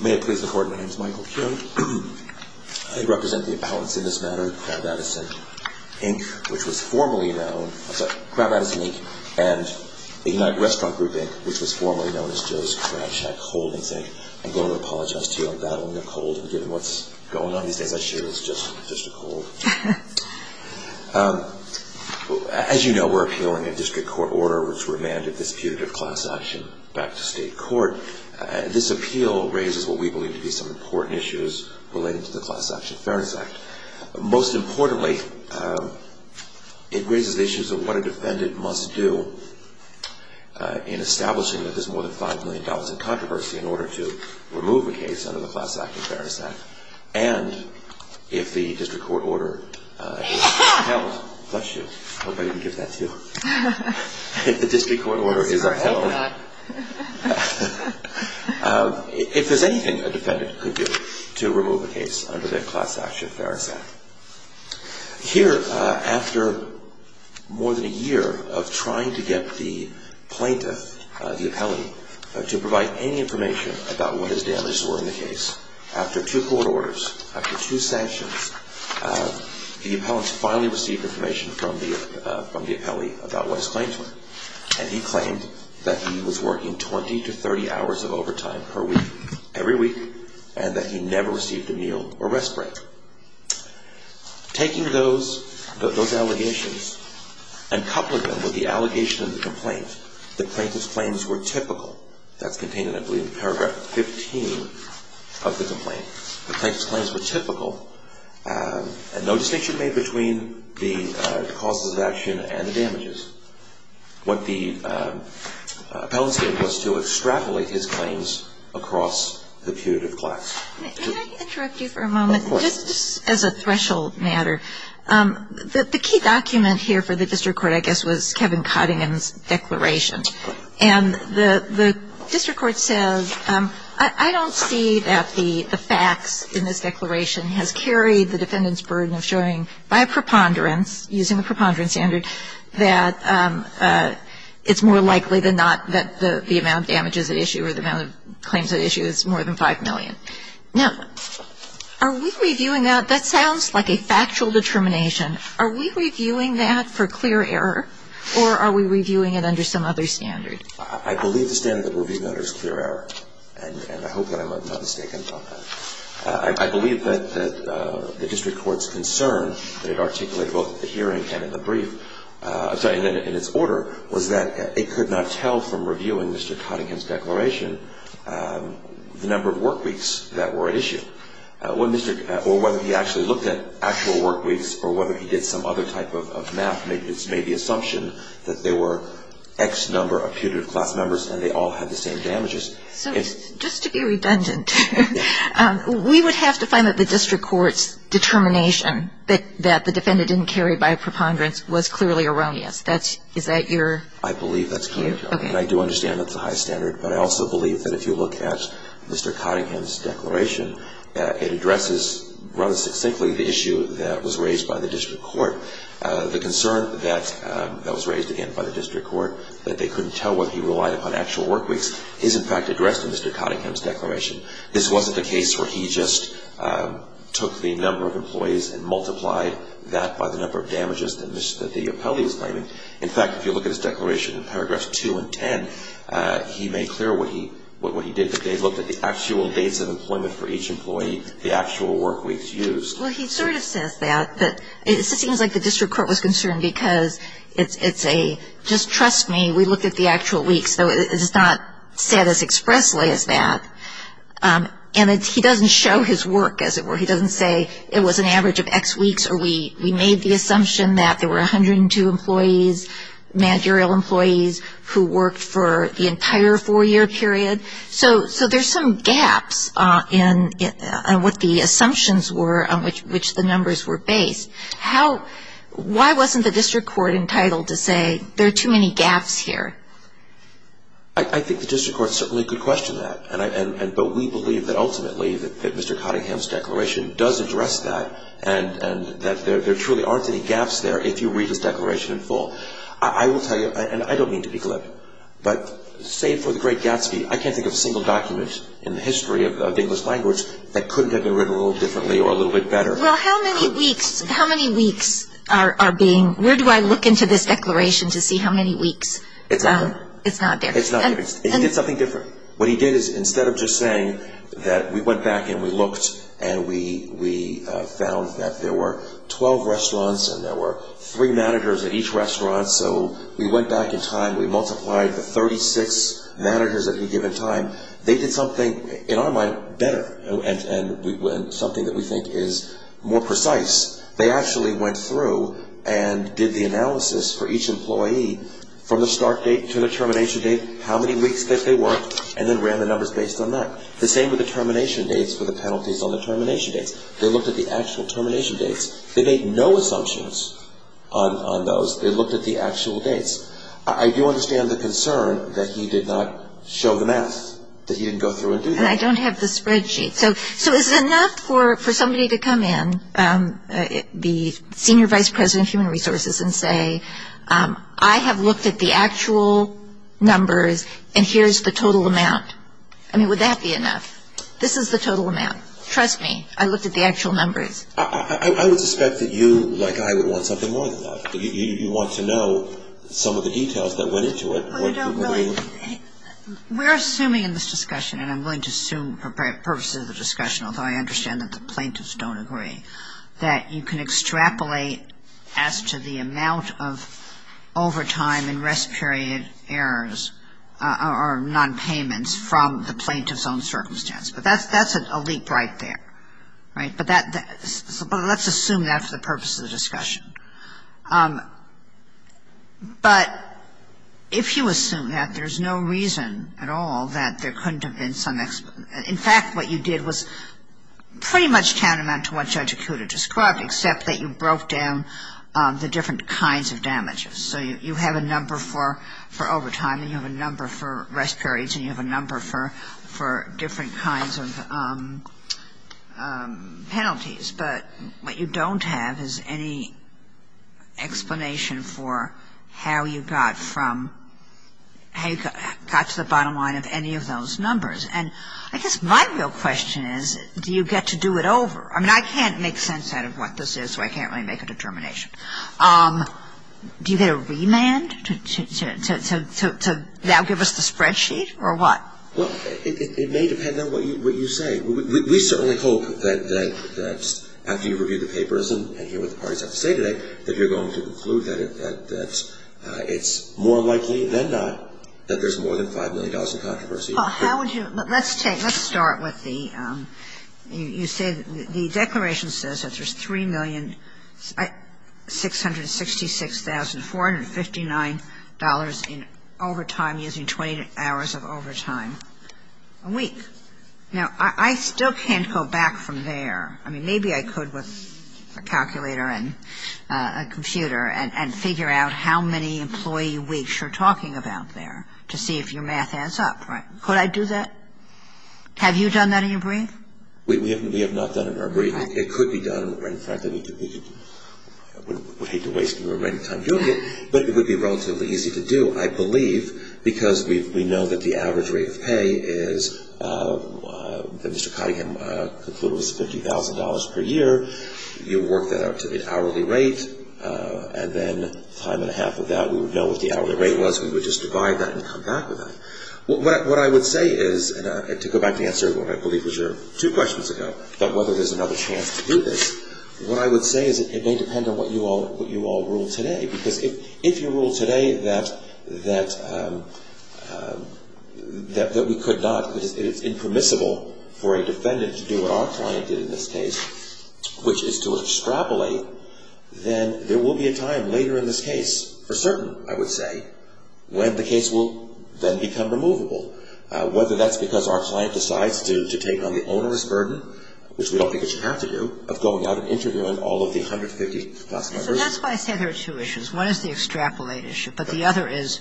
May it please the Court, my name is Michael Kuhn. I represent the appellants in this matter, Crab Addison, Inc., which was formerly known, I'm sorry, Crab Addison, Inc., and the United Restaurant Group, Inc., which was formerly known as Joe's Crab Shack Holdings, Inc. I'm going to apologize to you on that one, Nicole, given what's going on these days. I should have just said, just Nicole. As you know, we're appealing a district court order which remanded this putative class action back to state court. This appeal raises what we believe to be some important issues relating to the Class Action Fairness Act. Most importantly, it raises the issues of what a defendant must do in establishing that there's more than $5 million in controversy in order to remove a case under the Class Action Fairness Act. And if the district court order is upheld, if there's anything a defendant could do to remove a case under the Class Action Fairness Act. Here, after more than a year of trying to get the plaintiff, the appellee, to provide any information about what his damages were in the case, after two court orders, after two sanctions, the appellant finally received information from the appellee about what his claims were. And he claimed that he was working 20 to 30 hours of overtime per week, every week, and that he never received a meal or rest break. Taking those allegations and coupling them with the allegation of the complaint, the plaintiff's claims were typical. That's contained in, I believe, paragraph 15 of the complaint. The plaintiff's claims were typical, and no distinction made between the causes of action and the damages. What the appellant did was to extrapolate his claims across the putative class. Can I interrupt you for a moment, just as a threshold matter? The key document here for the district court, I guess, was Kevin Cottingham's declaration. And the district court says, I don't see that the facts in this declaration has carried the defendant's burden of showing, by preponderance, using the preponderance standard, that it's more likely than not that the amount of damages at issue or the amount of claims at issue is more than 5 million. Now, are we reviewing that? That sounds like a factual determination. Are we reviewing that for clear error, or are we reviewing it under some other standard? I believe the standard that we're reviewing under is clear error, and I hope that I'm not mistaken about that. I believe that the district court's concern that it articulated both at the hearing and in the brief, I'm sorry, in its order, was that it could not tell from reviewing Mr. Cottingham's declaration the number of work weeks that were at issue. Or whether he actually looked at actual work weeks or whether he did some other type of math, it's made the assumption that there were X number of putative class members and they all had the same damages. So just to be redundant, we would have to find that the district court's determination that the defendant didn't carry by preponderance was clearly erroneous. Is that your? I believe that's clear, and I do understand that's a high standard, but I also believe that if you look at Mr. Cottingham's declaration, it addresses rather succinctly the issue that was raised by the district court. The concern that was raised again by the district court that they couldn't tell whether he relied upon actual work weeks is in fact addressed in Mr. Cottingham's declaration. This wasn't a case where he just took the number of employees and multiplied that by the number of damages that the appellee was claiming. In fact, if you look at his declaration in paragraphs 2 and 10, he made clear what he did, that they looked at the actual dates of employment for each employee, the actual work weeks used. Well, he sort of says that, but it seems like the district court was concerned because it's a, just trust me, we looked at the actual weeks, so it's not said as expressly as that. And he doesn't show his work as it were. He doesn't say it was an average of X weeks or we made the assumption that there were 102 employees, managerial employees, who worked for the entire four-year period. So there's some gaps in what the assumptions were on which the numbers were based. Why wasn't the district court entitled to say there are too many gaps here? I think the district court certainly could question that, but we believe that ultimately that Mr. Cottingham's declaration does address that and that there truly aren't any gaps there if you read his declaration in full. I will tell you, and I don't mean to be glib, but save for the great Gatsby, I can't think of a single document in the history of the English language that couldn't have been written a little differently or a little bit better. Well, how many weeks are being, where do I look into this declaration to see how many weeks? It's not there. It's not there. It's not there. He did something different. What he did is instead of just saying that we went back and we looked and we found that there were 12 restaurants and there were three managers at each restaurant, so we went back in time, we multiplied the 36 managers at any given time. They did something, in our mind, better and something that we think is more precise. They actually went through and did the analysis for each employee from the start date to the termination date, how many weeks that they worked, and then ran the numbers based on that. The same with the termination dates for the penalties on the termination dates. They looked at the actual termination dates. They made no assumptions on those. They looked at the actual dates. I do understand the concern that he did not show the math, that he didn't go through and do that. And I don't have the spreadsheet. So is it enough for somebody to come in, the senior vice president of human resources, and say I have looked at the actual numbers and here's the total amount? I mean, would that be enough? This is the total amount. Trust me. I looked at the actual numbers. I would suspect that you, like I, would want something more than that. You want to know some of the details that went into it. We're assuming in this discussion, and I'm willing to assume purposes of the discussion, although I understand that the plaintiffs don't agree, that you can extrapolate as to the amount of overtime and rest period errors or nonpayments from the plaintiff's own circumstance. But that's a leap right there. Right? But let's assume that for the purpose of the discussion. But if you assume that, there's no reason at all that there couldn't have been some explanation. In fact, what you did was pretty much counter to what Judge Acuda described, except that you broke down the different kinds of damages. So you have a number for overtime and you have a number for rest periods and you have a number for different kinds of penalties. But what you don't have is any explanation for how you got from, how you got to the bottom line of any of those numbers. And I guess my real question is, do you get to do it over? I mean, I can't make sense out of what this is, so I can't really make a determination. Do you get a remand to now give us the spreadsheet or what? Well, it may depend on what you say. We certainly hope that after you review the papers and hear what the parties have to say today, that you're going to conclude that it's more likely than not that there's more than $5 million in controversy. Well, how would you? Let's take, let's start with the, you say the declaration says that there's $3,666,459 in overtime, using 20 hours of overtime a week. Now, I still can't go back from there. I mean, maybe I could with a calculator and a computer and figure out how many employee weeks you're talking about there to see if your math adds up. Right. Could I do that? Have you done that in your brief? We have not done it in our brief. It could be done. In fact, I would hate to waste your time doing it, but it would be relatively easy to do, I believe, because we know that the average rate of pay is, that Mr. Cottingham concluded was $50,000 per year. You work that out to an hourly rate, and then time and a half of that we would know what the hourly rate was. We would just divide that and come back with that. What I would say is, and to go back to the answer of what I believe was your two questions ago about whether there's another chance to do this, what I would say is it may depend on what you all rule today, because if you rule today that we could not, that it's impermissible for a defendant to do what our client did in this case, which is to extrapolate, then there will be a time later in this case, for certain, I would say, when the case will then become removable, whether that's because our client decides to take on the onerous burden, which we don't think it should have to do, of going out and interviewing all of the 150-plus members. And that's why I said there are two issues. One is the extrapolate issue, but the other is,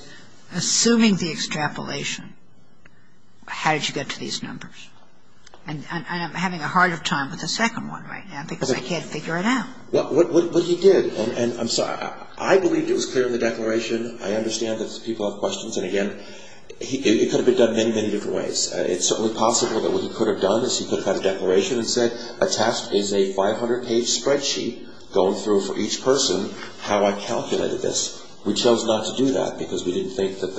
assuming the extrapolation, how did you get to these numbers? And I'm having a hard time with the second one right now because I can't figure it out. But he did. And I'm sorry. I believe it was clear in the declaration. I understand that people have questions. And, again, it could have been done many, many different ways. is a 500-page spreadsheet going through for each person how I calculated this. We chose not to do that because we didn't think that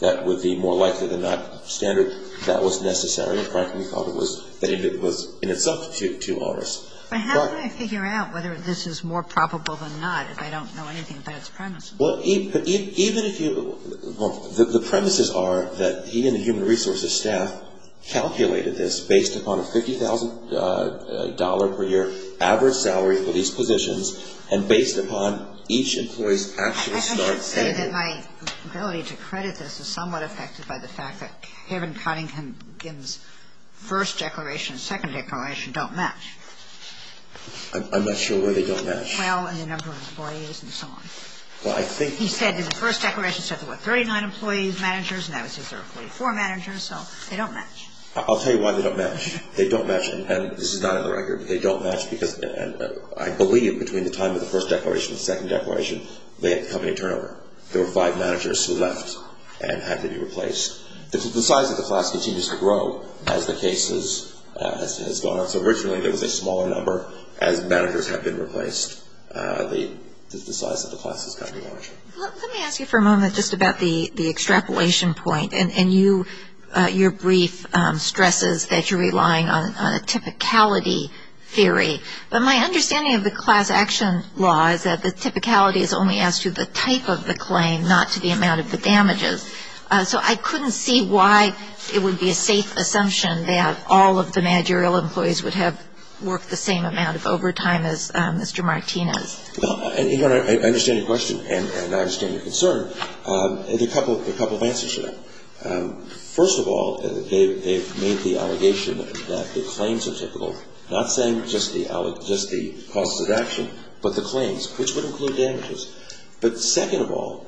that would be more likely than not standard. That was necessary. Frankly, we thought it was in itself too onerous. But how can I figure out whether this is more probable than not if I don't know anything about its premises? Well, the premises are that he and the human resources staff calculated this based upon a $50,000 per year average salary for these positions and based upon each employee's actual start salary. I should say that my ability to credit this is somewhat affected by the fact that Kevin Cunningham's first declaration and second declaration don't match. I'm not sure where they don't match. Well, in the number of employees and so on. He said in the first declaration there were 39 employees, managers, and now he says there are 44 managers. So they don't match. I'll tell you why they don't match. They don't match. And this is not in the record. They don't match because I believe between the time of the first declaration and the second declaration they had company turnover. There were five managers who left and had to be replaced. The size of the class continues to grow as the case has gone on. So originally there was a smaller number. As managers have been replaced, the size of the class has gotten larger. Let me ask you for a moment just about the extrapolation point. And your brief stresses that you're relying on a typicality theory. But my understanding of the class action law is that the typicality is only as to the type of the claim, not to the amount of the damages. So I couldn't see why it would be a safe assumption that all of the managerial employees would have worked the same amount of overtime as Mr. Martinez. Well, you know, I understand your question and I understand your concern. There are a couple of answers to that. First of all, they've made the allegation that the claims are typical, not saying just the causes of action, but the claims, which would include damages. But second of all,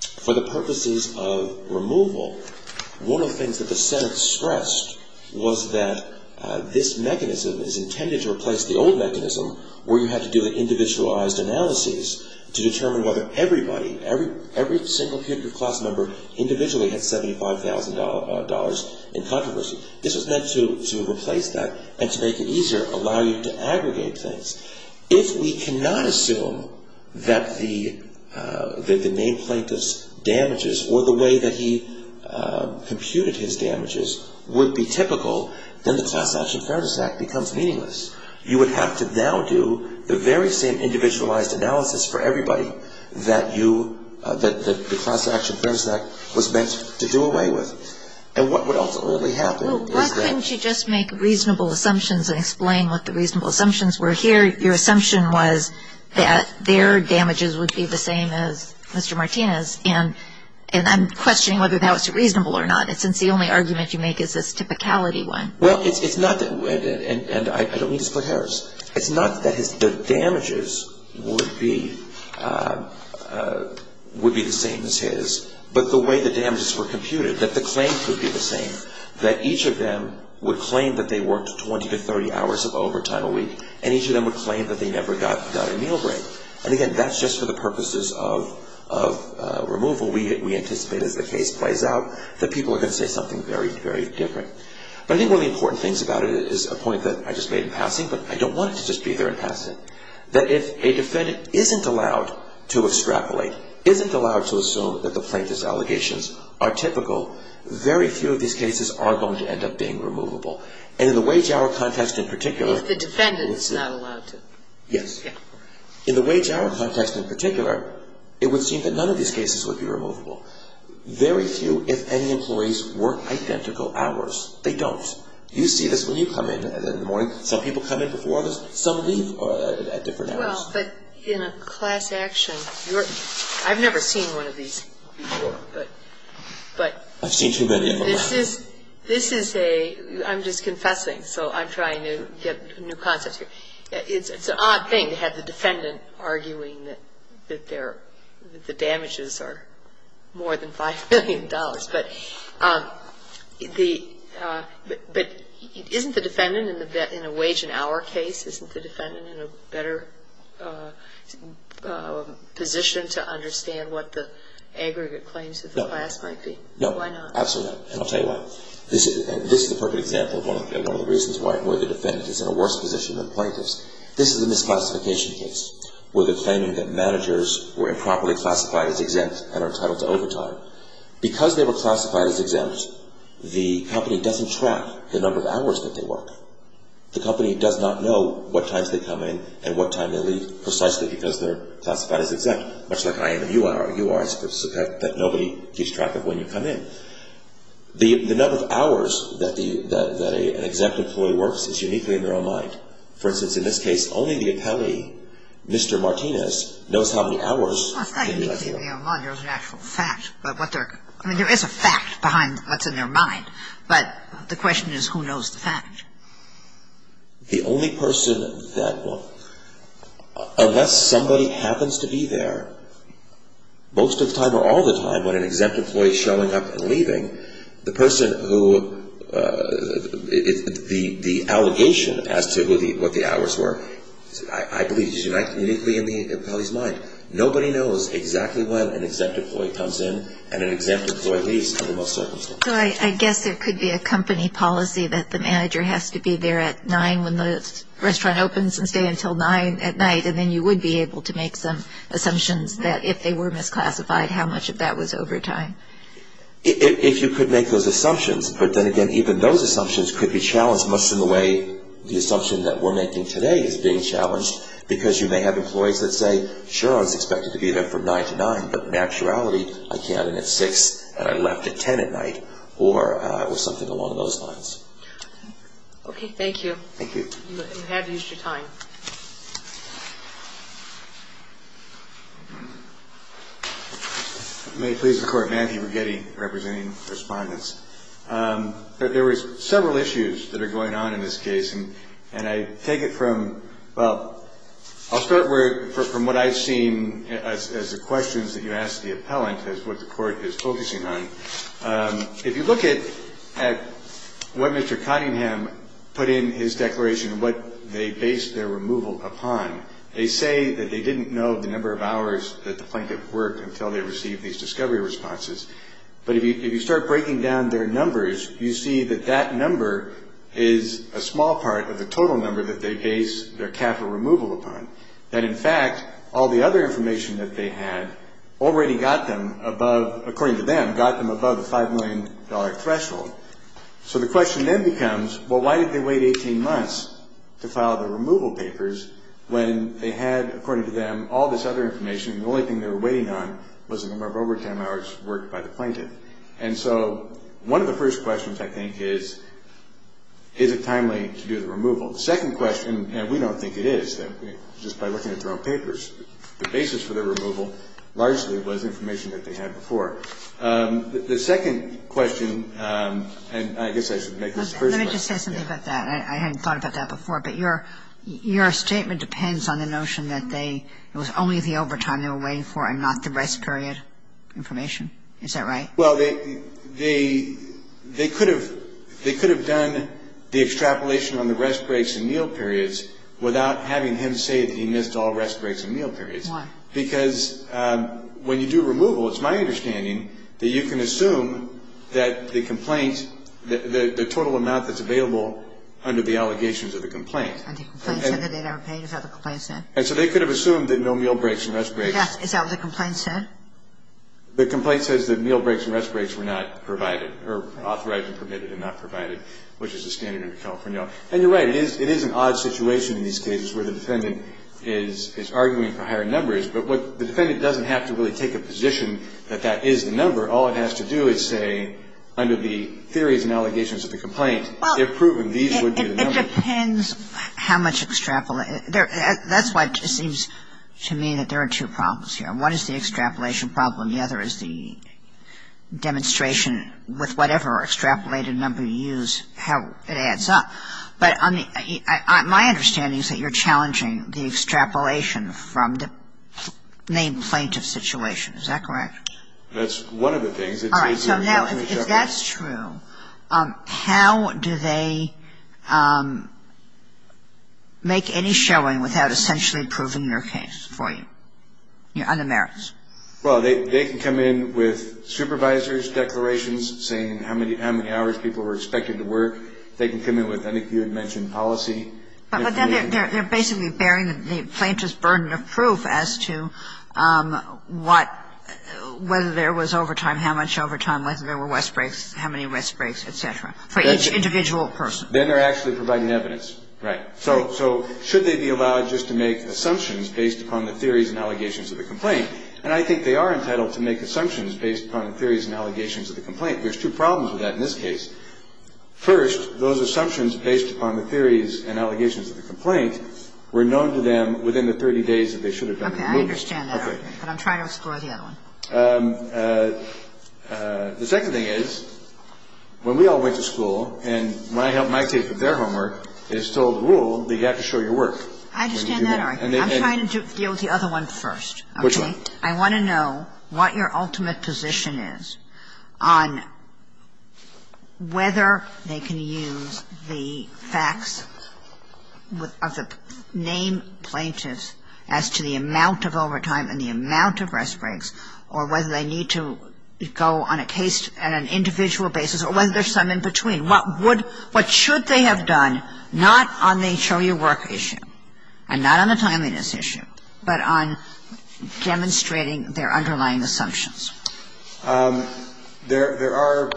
for the purposes of removal, one of the things that the Senate stressed was that this mechanism is intended to replace the old mechanism where you had to do individualized analyses to determine whether everybody, every single class member individually had $75,000 in controversy. This was meant to replace that and to make it easier, allow you to aggregate things. If we cannot assume that the name plaintiff's damages or the way that he computed his damages would be typical, then the Class Action Fairness Act becomes meaningless. You would have to now do the very same individualized analysis for everybody that you, that the Class Action Fairness Act was meant to do away with. And what would ultimately happen is that... Your assumption was that their damages would be the same as Mr. Martinez. And I'm questioning whether that was reasonable or not, since the only argument you make is this typicality one. Well, it's not that... And I don't mean to split hairs. It's not that the damages would be the same as his, but the way the damages were computed, that the claims would be the same, that each of them would claim that they worked 20 to 30 hours of overtime a week, and each of them would claim that they never got a meal break. And again, that's just for the purposes of removal. We anticipate, as the case plays out, that people are going to say something very, very different. But I think one of the important things about it is a point that I just made in passing, but I don't want it to just be there in passing, that if a defendant isn't allowed to extrapolate, isn't allowed to assume that the plaintiff's allegations are typical, very few of these cases are going to end up being removable. And in the wage-hour context in particular... If the defendant is not allowed to. Yes. Yeah. In the wage-hour context in particular, it would seem that none of these cases would be removable. Very few, if any, employees work identical hours. They don't. You see this when you come in in the morning. Some people come in before others. Some leave at different hours. Well, but in a class action, you're – I've never seen one of these before, but... I've seen too many of them. This is a – I'm just confessing, so I'm trying to get new concepts here. It's an odd thing to have the defendant arguing that the damages are more than $5 million. But isn't the defendant in a wage-and-hour case, isn't the defendant in a better position to understand what the aggregate claims of the class might be? No. Why not? Absolutely not, and I'll tell you why. This is a perfect example of one of the reasons why the defendant is in a worse position than the plaintiff's. This is a misclassification case where they're claiming that managers were improperly classified as exempt and are entitled to overtime. Because they were classified as exempt, the company doesn't track the number of hours that they work. The company does not know what times they come in and what time they leave, precisely because they're classified as exempt, much like I am and you are. You are, I suppose, that nobody keeps track of when you come in. The number of hours that an exempt employee works is uniquely in their own mind. For instance, in this case, only the appellee, Mr. Martinez, knows how many hours... Well, it's not uniquely in their own mind. There's an actual fact about what they're... I mean, there is a fact behind what's in their mind, but the question is who knows the fact. The only person that will... Unless somebody happens to be there most of the time or all the time when an exempt employee is showing up and leaving, the person who... The allegation as to what the hours were, I believe, is uniquely in the appellee's mind. Nobody knows exactly when an exempt employee comes in and an exempt employee leaves under most circumstances. So I guess there could be a company policy that the manager has to be there at 9 when the restaurant opens and stay until 9 at night, and then you would be able to make some assumptions that if they were misclassified, how much of that was overtime. If you could make those assumptions, but then again, even those assumptions could be challenged, much in the way the assumption that we're making today is being challenged, because you may have employees that say, sure, I was expected to be there from 9 to 9, but in actuality, I came in at 6 and I left at 10 at night, or it was something along those lines. Okay, thank you. Thank you. You have used your time. May it please the Court. Matthew Brigetti, representing respondents. There were several issues that are going on in this case, and I take it from, well, I'll start from what I've seen as the questions that you asked the appellant, as what the Court is focusing on. If you look at what Mr. Cottingham put in his declaration, what they based their removal upon, they say that they didn't know the number of hours that the plaintiff worked until they received these discovery responses. But if you start breaking down their numbers, you see that that number is a small part of the total number that they base their capital removal upon, that, in fact, all the other information that they had already got them above, according to them, got them above the $5 million threshold. So the question then becomes, well, why did they wait 18 months to file the removal papers when they had, according to them, all this other information, and the only thing they were waiting on was the number of overtime hours worked by the plaintiff? And so one of the first questions, I think, is, is it timely to do the removal? The second question, and we don't think it is. Just by looking at their own papers, the basis for their removal largely was information that they had before. The second question, and I guess I should make this the first question. Let me just say something about that. I hadn't thought about that before. But your statement depends on the notion that it was only the overtime they were waiting for and not the rest period information. Is that right? Well, they could have done the extrapolation on the rest breaks and meal periods without having him say that he missed all rest breaks and meal periods. Why? Because when you do removal, it's my understanding that you can assume that the complaint, the total amount that's available under the allegations of the complaint. And the complaint said that they never paid. Is that what the complaint said? And so they could have assumed that no meal breaks and rest breaks. Yes. Is that what the complaint said? The complaint says that meal breaks and rest breaks were not provided or authorized and permitted and not provided, which is the standard in California. And you're right. It is an odd situation in these cases where the defendant is arguing for higher numbers. But the defendant doesn't have to really take a position that that is the number. All it has to do is say under the theories and allegations of the complaint, if proven, these would be the numbers. Well, it depends how much extrapolation. That's why it seems to me that there are two problems here. One is the extrapolation problem. The other is the demonstration with whatever extrapolated number you use, how it adds up. But my understanding is that you're challenging the extrapolation from the main plaintiff situation. Is that correct? That's one of the things. All right. So now if that's true, how do they make any showing without essentially proving their case for you? On the merits. Well, they can come in with supervisors' declarations saying how many hours people were expected to work. They can come in with, I think you had mentioned policy. But then they're basically bearing the plaintiff's burden of proof as to what, whether there was overtime, how much overtime, whether there were rest breaks, how many rest breaks, et cetera, for each individual person. Then they're actually providing evidence. Right. So should they be allowed just to make assumptions based upon the theories and allegations of the complaint? And I think they are entitled to make assumptions based upon the theories and allegations of the complaint. There's two problems with that in this case. First, those assumptions based upon the theories and allegations of the complaint were known to them within the 30 days that they should have been removed. Okay. I understand that. Okay. But I'm trying to explore the other one. The second thing is, when we all went to school and my help, my tape of their homework, it's still the rule that you have to show your work. I understand that. I'm trying to deal with the other one first. Which one? I want to know what your ultimate position is on whether they can use the facts of the name plaintiffs as to the amount of overtime and the amount of rest breaks or whether they need to go on an individual basis or whether there's some in between. What should they have done, not on the show your work issue and not on the timeliness issue, but on demonstrating their underlying assumptions? There are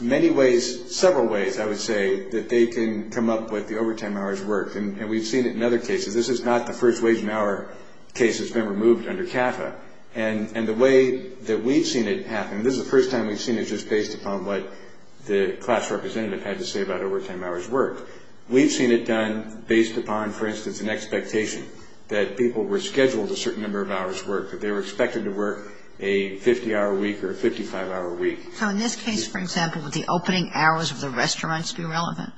many ways, several ways, I would say, that they can come up with the overtime hours worked. And we've seen it in other cases. This is not the first wage and hour case that's been removed under CAFA. And the way that we've seen it happen, this is the first time we've seen it just based upon what the class representative had to say about overtime hours worked. We've seen it done based upon, for instance, an expectation that people were scheduled a certain number of hours of work, that they were expected to work a 50-hour week or a 55-hour week. So in this case, for example, would the opening hours of the restaurants be relevant?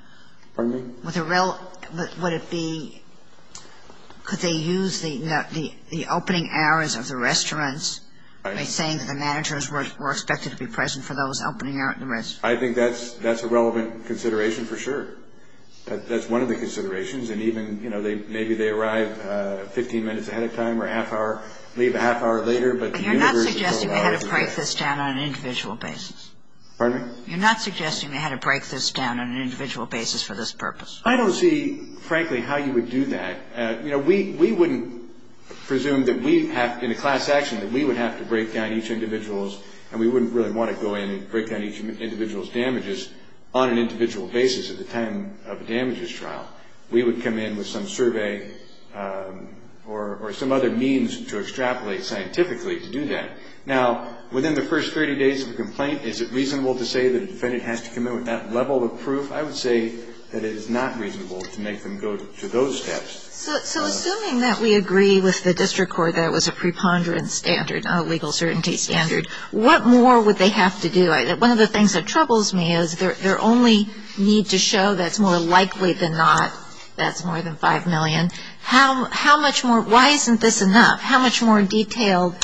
Pardon me? Would it be, could they use the opening hours of the restaurants by saying that the managers were expected to be present for those opening hours? I think that's a relevant consideration for sure. That's one of the considerations. And even, you know, maybe they arrive 15 minutes ahead of time or half hour, leave a half hour later. But you're not suggesting they had to break this down on an individual basis. Pardon me? You're not suggesting they had to break this down on an individual basis for this purpose. I don't see, frankly, how you would do that. You know, we wouldn't presume that we have, in a class action, that we would have to break down each individual's, and we wouldn't really want to go in and break down each individual's damages on an individual basis at the time of a damages trial. We would come in with some survey or some other means to extrapolate scientifically to do that. Now, within the first 30 days of a complaint, is it reasonable to say that a defendant has to come in with that level of proof? I would say that it is not reasonable to make them go to those steps. So assuming that we agree with the district court that it was a preponderance standard, a legal certainty standard, what more would they have to do? One of the things that troubles me is their only need to show that's more likely than not, that's more than 5 million. How much more, why isn't this enough? How much more detailed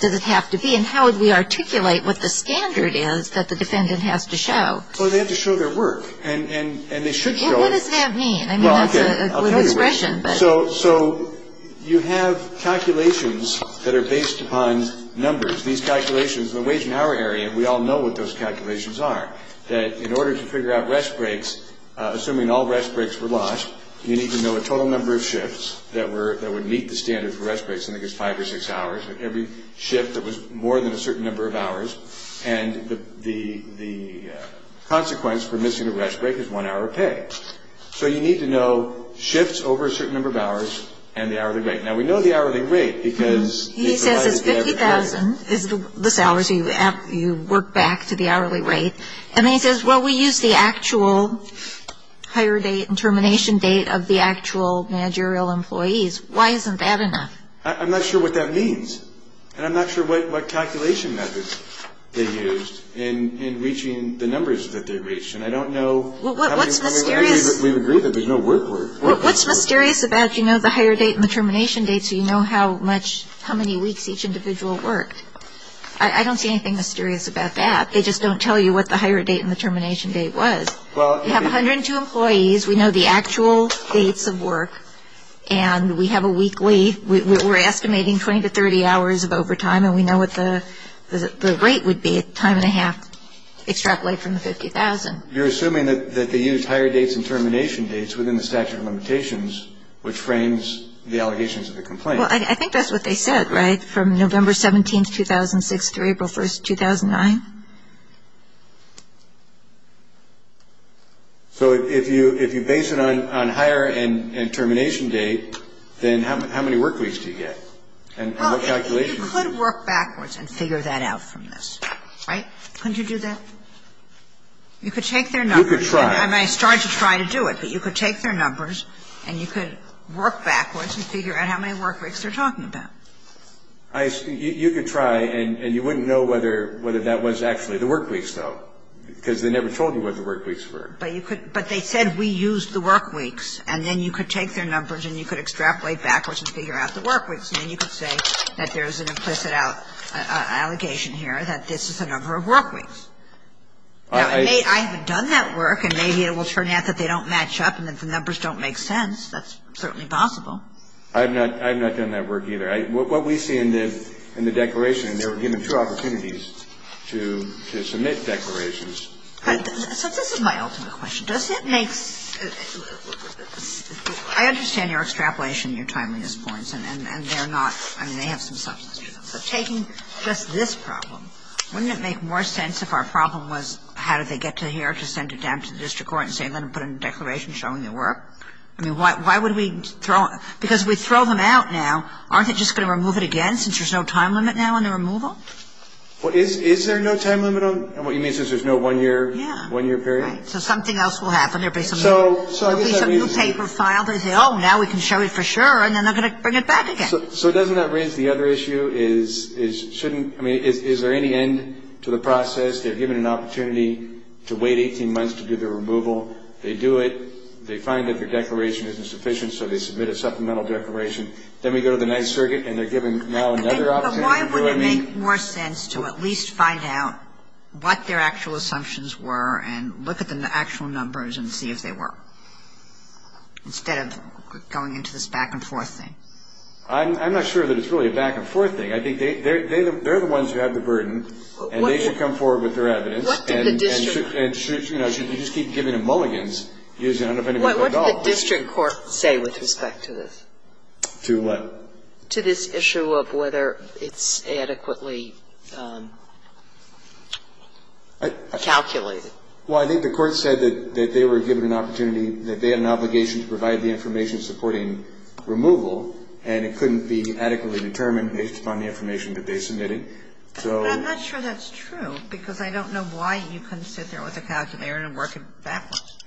does it have to be? And how would we articulate what the standard is that the defendant has to show? Well, they have to show their work, and they should show it. Well, what does that mean? I mean, that's a good expression, but. So you have calculations that are based upon numbers. These calculations, in the wage and hour area, we all know what those calculations are, that in order to figure out rest breaks, assuming all rest breaks were lost, you need to know a total number of shifts that would meet the standard for rest breaks, and I think it's five or six hours. Every shift that was more than a certain number of hours, and the consequence for missing a rest break is one hour of pay. So you need to know shifts over a certain number of hours and the hourly rate. Now, we know the hourly rate because. He says it's 50,000 is the hours you work back to the hourly rate. And then he says, well, we use the actual hire date and termination date of the actual managerial employees. Why isn't that enough? I'm not sure what that means, and I'm not sure what calculation methods they used in reaching the numbers that they reached, and I don't know. What's mysterious. We agree that there's no work work. What's mysterious about, you know, the hire date and the termination date so you know how much, how many weeks each individual worked? I don't see anything mysterious about that. They just don't tell you what the hire date and the termination date was. You have 102 employees. We know the actual dates of work, and we have a weekly. We're estimating 20 to 30 hours of overtime, and we know what the rate would be a time and a half extrapolated from the 50,000. You're assuming that they used hire dates and termination dates within the statute of limitations, which frames the allegations of the complaint. Well, I think that's what they said, right, So if you base it on hire and termination date, then how many work weeks do you get? And what calculation? Well, you could work backwards and figure that out from this, right? Couldn't you do that? You could take their numbers. You could try. I mean, I started to try to do it, but you could take their numbers and you could work backwards and figure out how many work weeks they're talking about. You could try, and you wouldn't know whether that was actually the work weeks, though, because they never told you what the work weeks were. But they said we used the work weeks, and then you could take their numbers and you could extrapolate backwards and figure out the work weeks, and then you could say that there's an implicit allegation here that this is the number of work weeks. Now, I haven't done that work, and maybe it will turn out that they don't match up and that the numbers don't make sense. That's certainly possible. I've not done that work either. What we see in the declaration, and they were given two opportunities to submit declarations. So this is my ultimate question. Does it make – I understand your extrapolation and your timeliness points, and they're not – I mean, they have some substance to them. So taking just this problem, wouldn't it make more sense if our problem was how did they get to here to send it down to the district court and say, let them put in a declaration showing their work? I mean, why would we throw – because if we throw them out now, aren't they just going to remove it again since there's no time limit now on the removal? Well, is there no time limit on – and what you mean since there's no one-year period? Yeah, right. So something else will happen. There'll be some new paper filed. They'll say, oh, now we can show it for sure, and then they're going to bring it back again. So doesn't that raise the other issue is shouldn't – I mean, is there any end to the process? They're given an opportunity to wait 18 months to do the removal. They do it. They find that their declaration isn't sufficient, so they submit a supplemental declaration. Then we go to the Ninth Circuit, and they're given now another opportunity. But why wouldn't it make more sense to at least find out what their actual assumptions were and look at the actual numbers and see if they were, instead of going into this back-and-forth thing? I'm not sure that it's really a back-and-forth thing. I think they're the ones who have the burden, and they should come forward with their evidence. What did the district – And, you know, you just keep giving them mulligans. What did the district court say with respect to this? To what? To this issue of whether it's adequately calculated. Well, I think the court said that they were given an opportunity, that they had an obligation to provide the information supporting removal, and it couldn't be adequately determined based upon the information that they submitted. So – But I'm not sure that's true, because I don't know why you couldn't sit there with a calculator and work it backwards.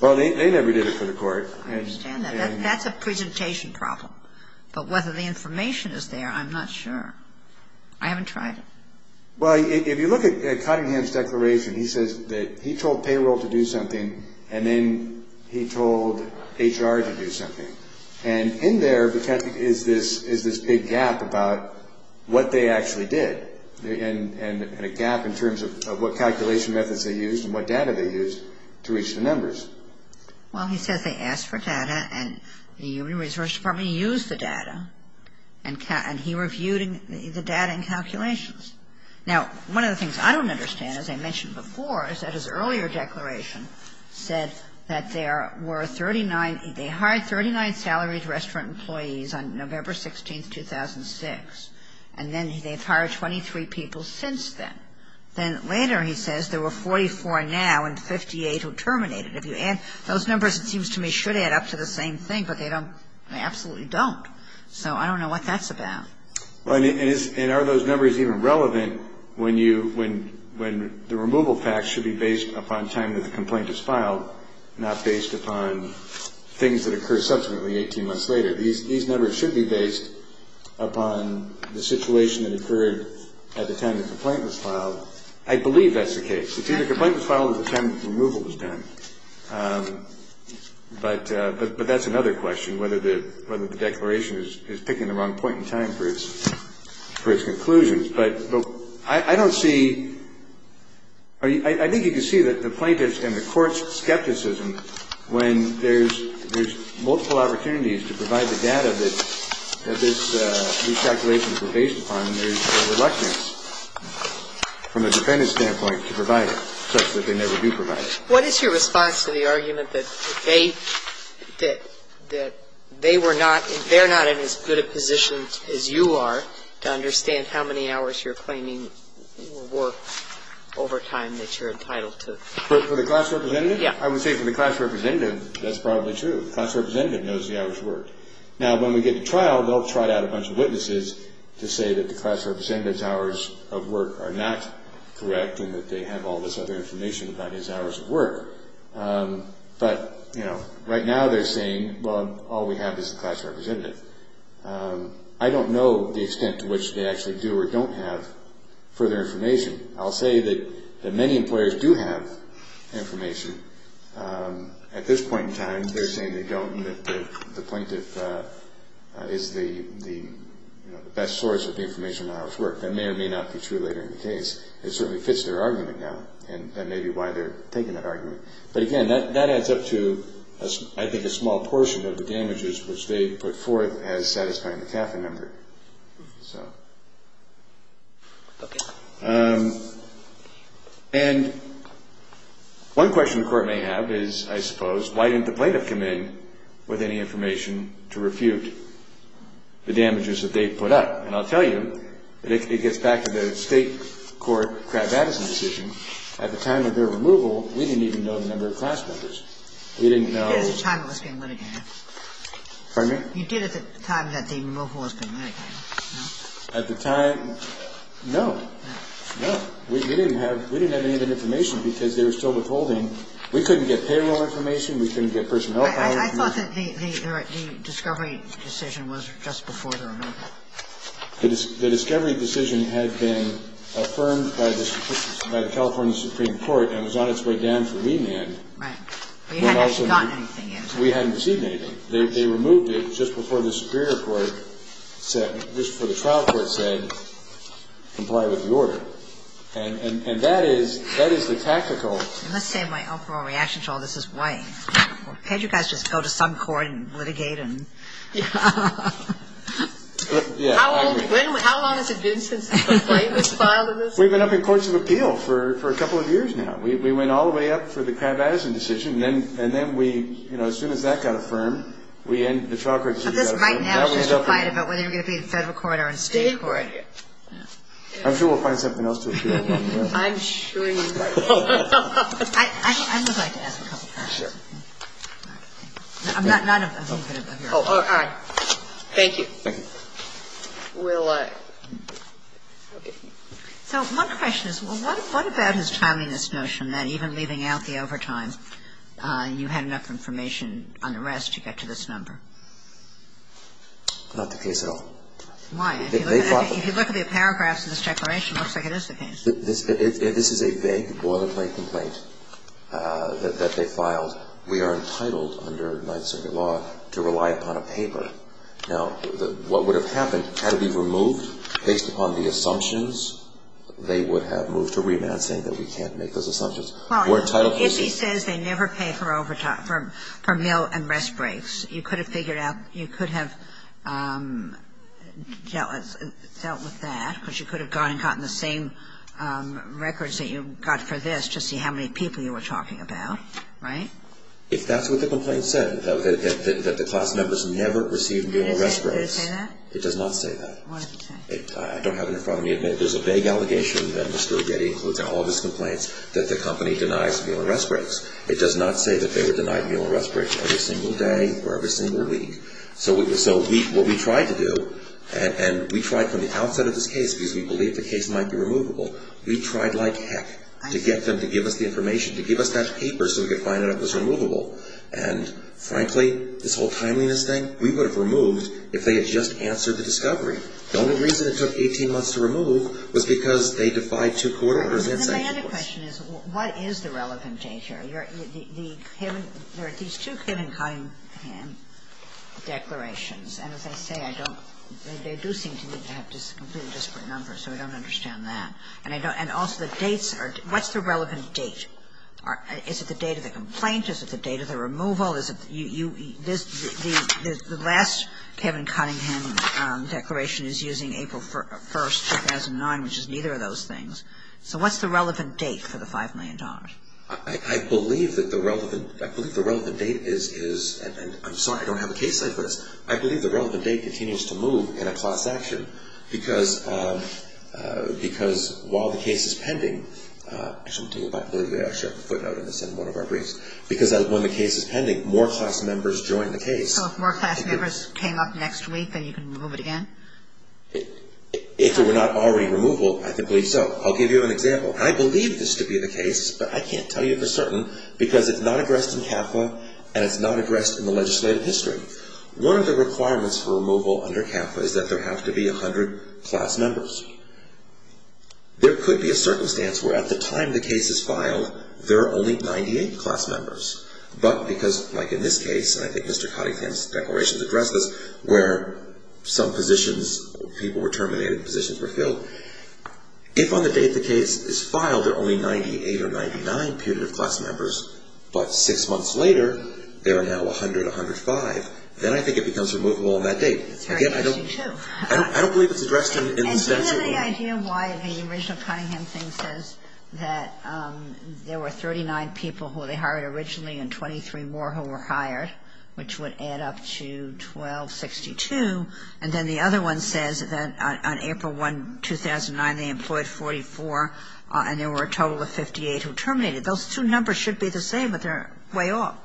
Well, they never did it for the court. I understand that. That's a presentation problem. But whether the information is there, I'm not sure. I haven't tried it. Well, if you look at Cottingham's declaration, he says that he told payroll to do something, and then he told HR to do something. And in there is this big gap about what they actually did, and a gap in terms of what calculation methods they used and what data they used to reach the numbers. Well, he says they asked for data, and the Human Resources Department used the data, and he reviewed the data and calculations. Now, one of the things I don't understand, as I mentioned before, is that his earlier declaration said that there were 39 – they hired 39 salaried restaurant employees on November 16, 2006, and then they've hired 23 people since then. Then later he says there were 44 now and 58 who terminated. Those numbers, it seems to me, should add up to the same thing, but they don't. They absolutely don't. So I don't know what that's about. And are those numbers even relevant when the removal facts should be based upon time that the complaint is filed, not based upon things that occur subsequently 18 months later? These numbers should be based upon the situation that occurred at the time the complaint was filed. I believe that's the case. It's either the complaint was filed or the time the removal was done. But that's another question, whether the declaration is picking the wrong point in time for its conclusions. But I don't see – I think you can see that the plaintiffs and the courts' skepticism when there's multiple opportunities to provide the data that this recalculation is based upon, there's a reluctance from a defendant's standpoint to provide it such that they never do provide it. What is your response to the argument that they were not – they're not in as good a position as you are to understand how many hours you're claiming or overtime that you're entitled to? For the class representative? I would say for the class representative, that's probably true. The class representative knows the hours worked. Now, when we get to trial, they'll trot out a bunch of witnesses to say that the class representative's hours of work are not correct and that they have all this other information about his hours of work. But right now they're saying, well, all we have is the class representative. I don't know the extent to which they actually do or don't have further information. I'll say that many employers do have information. At this point in time, they're saying they don't and that the plaintiff is the best source of the information on the hours worked. That may or may not be true later in the case. It certainly fits their argument now, and that may be why they're taking that argument. But again, that adds up to, I think, a small portion of the damages which they put forth as satisfying the CAFA member. And one question the Court may have is, I suppose, why didn't the plaintiff come in with any information to refute the damages that they put up? And I'll tell you that it gets back to the state court Crabb-Addison decision. At the time of their removal, we didn't even know the number of class members. We didn't know. You did at the time it was being litigated. Pardon me? You did at the time that the removal was being litigated, no? At the time? No. No. We didn't have any of that information because they were still withholding. We couldn't get payroll information. We couldn't get personnel power. I thought that the discovery decision was just before the removal. The discovery decision had been affirmed by the California Supreme Court and was on its way down for remand. Right. But you hadn't actually gotten anything yet. We hadn't received anything. They removed it just before the Superior Court said, just before the trial court said, comply with the order. And that is the tactical. Let's say my overall reaction to all this is, wait, can't you guys just go to some court and litigate and? Yeah. How long has it been since the plaintiff was filed in this? We've been up in Courts of Appeal for a couple of years now. We went all the way up for the crab addison decision, and then we, you know, as soon as that got affirmed, we ended the trial court decision. But this right now is just a fight about whether you're going to be in federal court or in state court. I'm sure we'll find something else to do. I'm sure you will. I would like to ask a couple of questions. Sure. All right. Thank you. Thank you. So one question is, well, what about his timeliness notion? That even leaving out the overtime, you had enough information on the rest to get to this number? Not the case at all. Why? If you look at the paragraphs of this declaration, it looks like it is the case. This is a vague boilerplate complaint that they filed. We are entitled under Ninth Circuit law to rely upon a paper. Now, what would have happened had it been removed based upon the assumptions, they would have moved to remand, saying that we can't make those assumptions. Well, if he says they never pay for overtime, for meal and rest breaks, you could have figured out, you could have dealt with that, because you could have gone and gotten the same records that you got for this to see how many people you were talking about, right? If that's what the complaint said, that the class members never received meal and rest breaks. Does it say that? It does not say that. What does it say? I don't have it in front of me. There's a vague allegation that Mr. Getty includes in all of his complaints that the company denies meal and rest breaks. It does not say that they were denied meal and rest breaks every single day or every single week. So what we tried to do, and we tried from the outset of this case, because we believed the case might be removable, we tried like heck to get them to give us the information, to give us that paper so we could find out if it was removable. And frankly, this whole timeliness thing, we would have removed if they had just answered the discovery. The only reason it took 18 months to remove was because they defied two court orders and said it was. Kagan. And then my other question is, what is the relevant data? There are these two Kevin Cunningham declarations. And as I say, I don't – they do seem to me to have completely disparate numbers, so I don't understand that. And I don't – and also the dates are – what's the relevant date? Is it the date of the complaint? Is it the date of the removal? Well, the last Kevin Cunningham declaration is using April 1st, 2009, which is neither of those things. So what's the relevant date for the $5 million? I believe that the relevant – I believe the relevant date is – and I'm sorry, I don't have a case like this. I believe the relevant date continues to move in a cross-section because while the case is pending – I shouldn't think about it. Maybe I'll share a footnote in one of our briefs. Because when the case is pending, more class members join the case. So if more class members came up next week, then you can remove it again? If it were not already removal, I believe so. I'll give you an example. I believe this to be the case, but I can't tell you for certain because it's not addressed in CAFA and it's not addressed in the legislative history. One of the requirements for removal under CAFA is that there have to be 100 class members. There could be a circumstance where at the time the case is filed, there are only 98 or 99 periods of class members. But because, like in this case, and I think Mr. Cottingham's declarations address this, where some positions – people were terminated, positions were filled. If on the date the case is filed, there are only 98 or 99 periods of class members, but six months later, there are now 100, 105, then I think it becomes removable on that date. It's very interesting, too. I don't believe it's addressed in the – Sotomayor, do you have any idea why the original Cottingham thing says that there were 39 people who they hired originally and 23 more who were hired, which would add up to 1262, and then the other one says that on April 1, 2009, they employed 44 and there were a total of 58 who terminated. Those two numbers should be the same, but they're way off.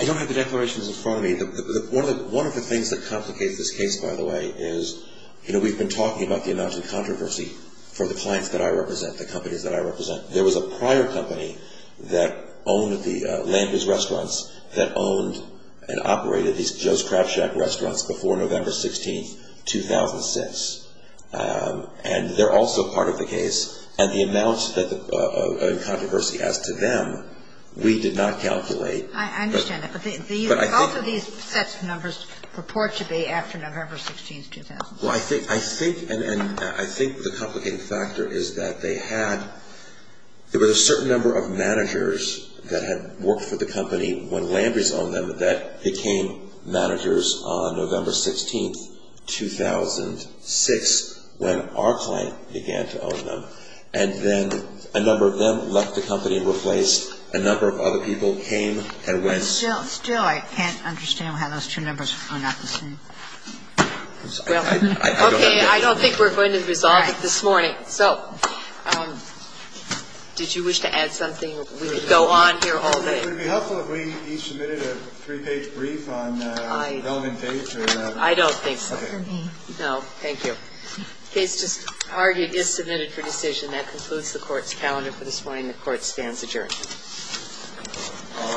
I don't have the declarations in front of me. One of the things that complicates this case, by the way, is, you know, we've been talking about the amount of controversy for the clients that I represent, the companies that I represent. There was a prior company that owned the Lamby's restaurants that owned and operated these Joe's Crab Shack restaurants before November 16, 2006, and they're also part of the case, and the amount of controversy as to them, we did not calculate. I understand that, but the – But I think – Both of these sets of numbers purport to be after November 16, 2000. Well, I think – I think – and I think the complicating factor is that they had – there was a certain number of managers that had worked for the company when Lamby's owned them that became managers on November 16, 2006, when our client began to own them. And then a number of them left the company and replaced. A number of other people came and went. Still, I can't understand why those two numbers are not the same. Well, okay. I don't think we're going to resolve it this morning. So did you wish to add something? We could go on here all day. Would it be helpful if we each submitted a three-page brief on the development date? I don't think so. Okay. No, thank you. The case just argued is submitted for decision. That concludes the Court's calendar for this morning. The Court stands adjourned. All rise. The Court is now adjourned.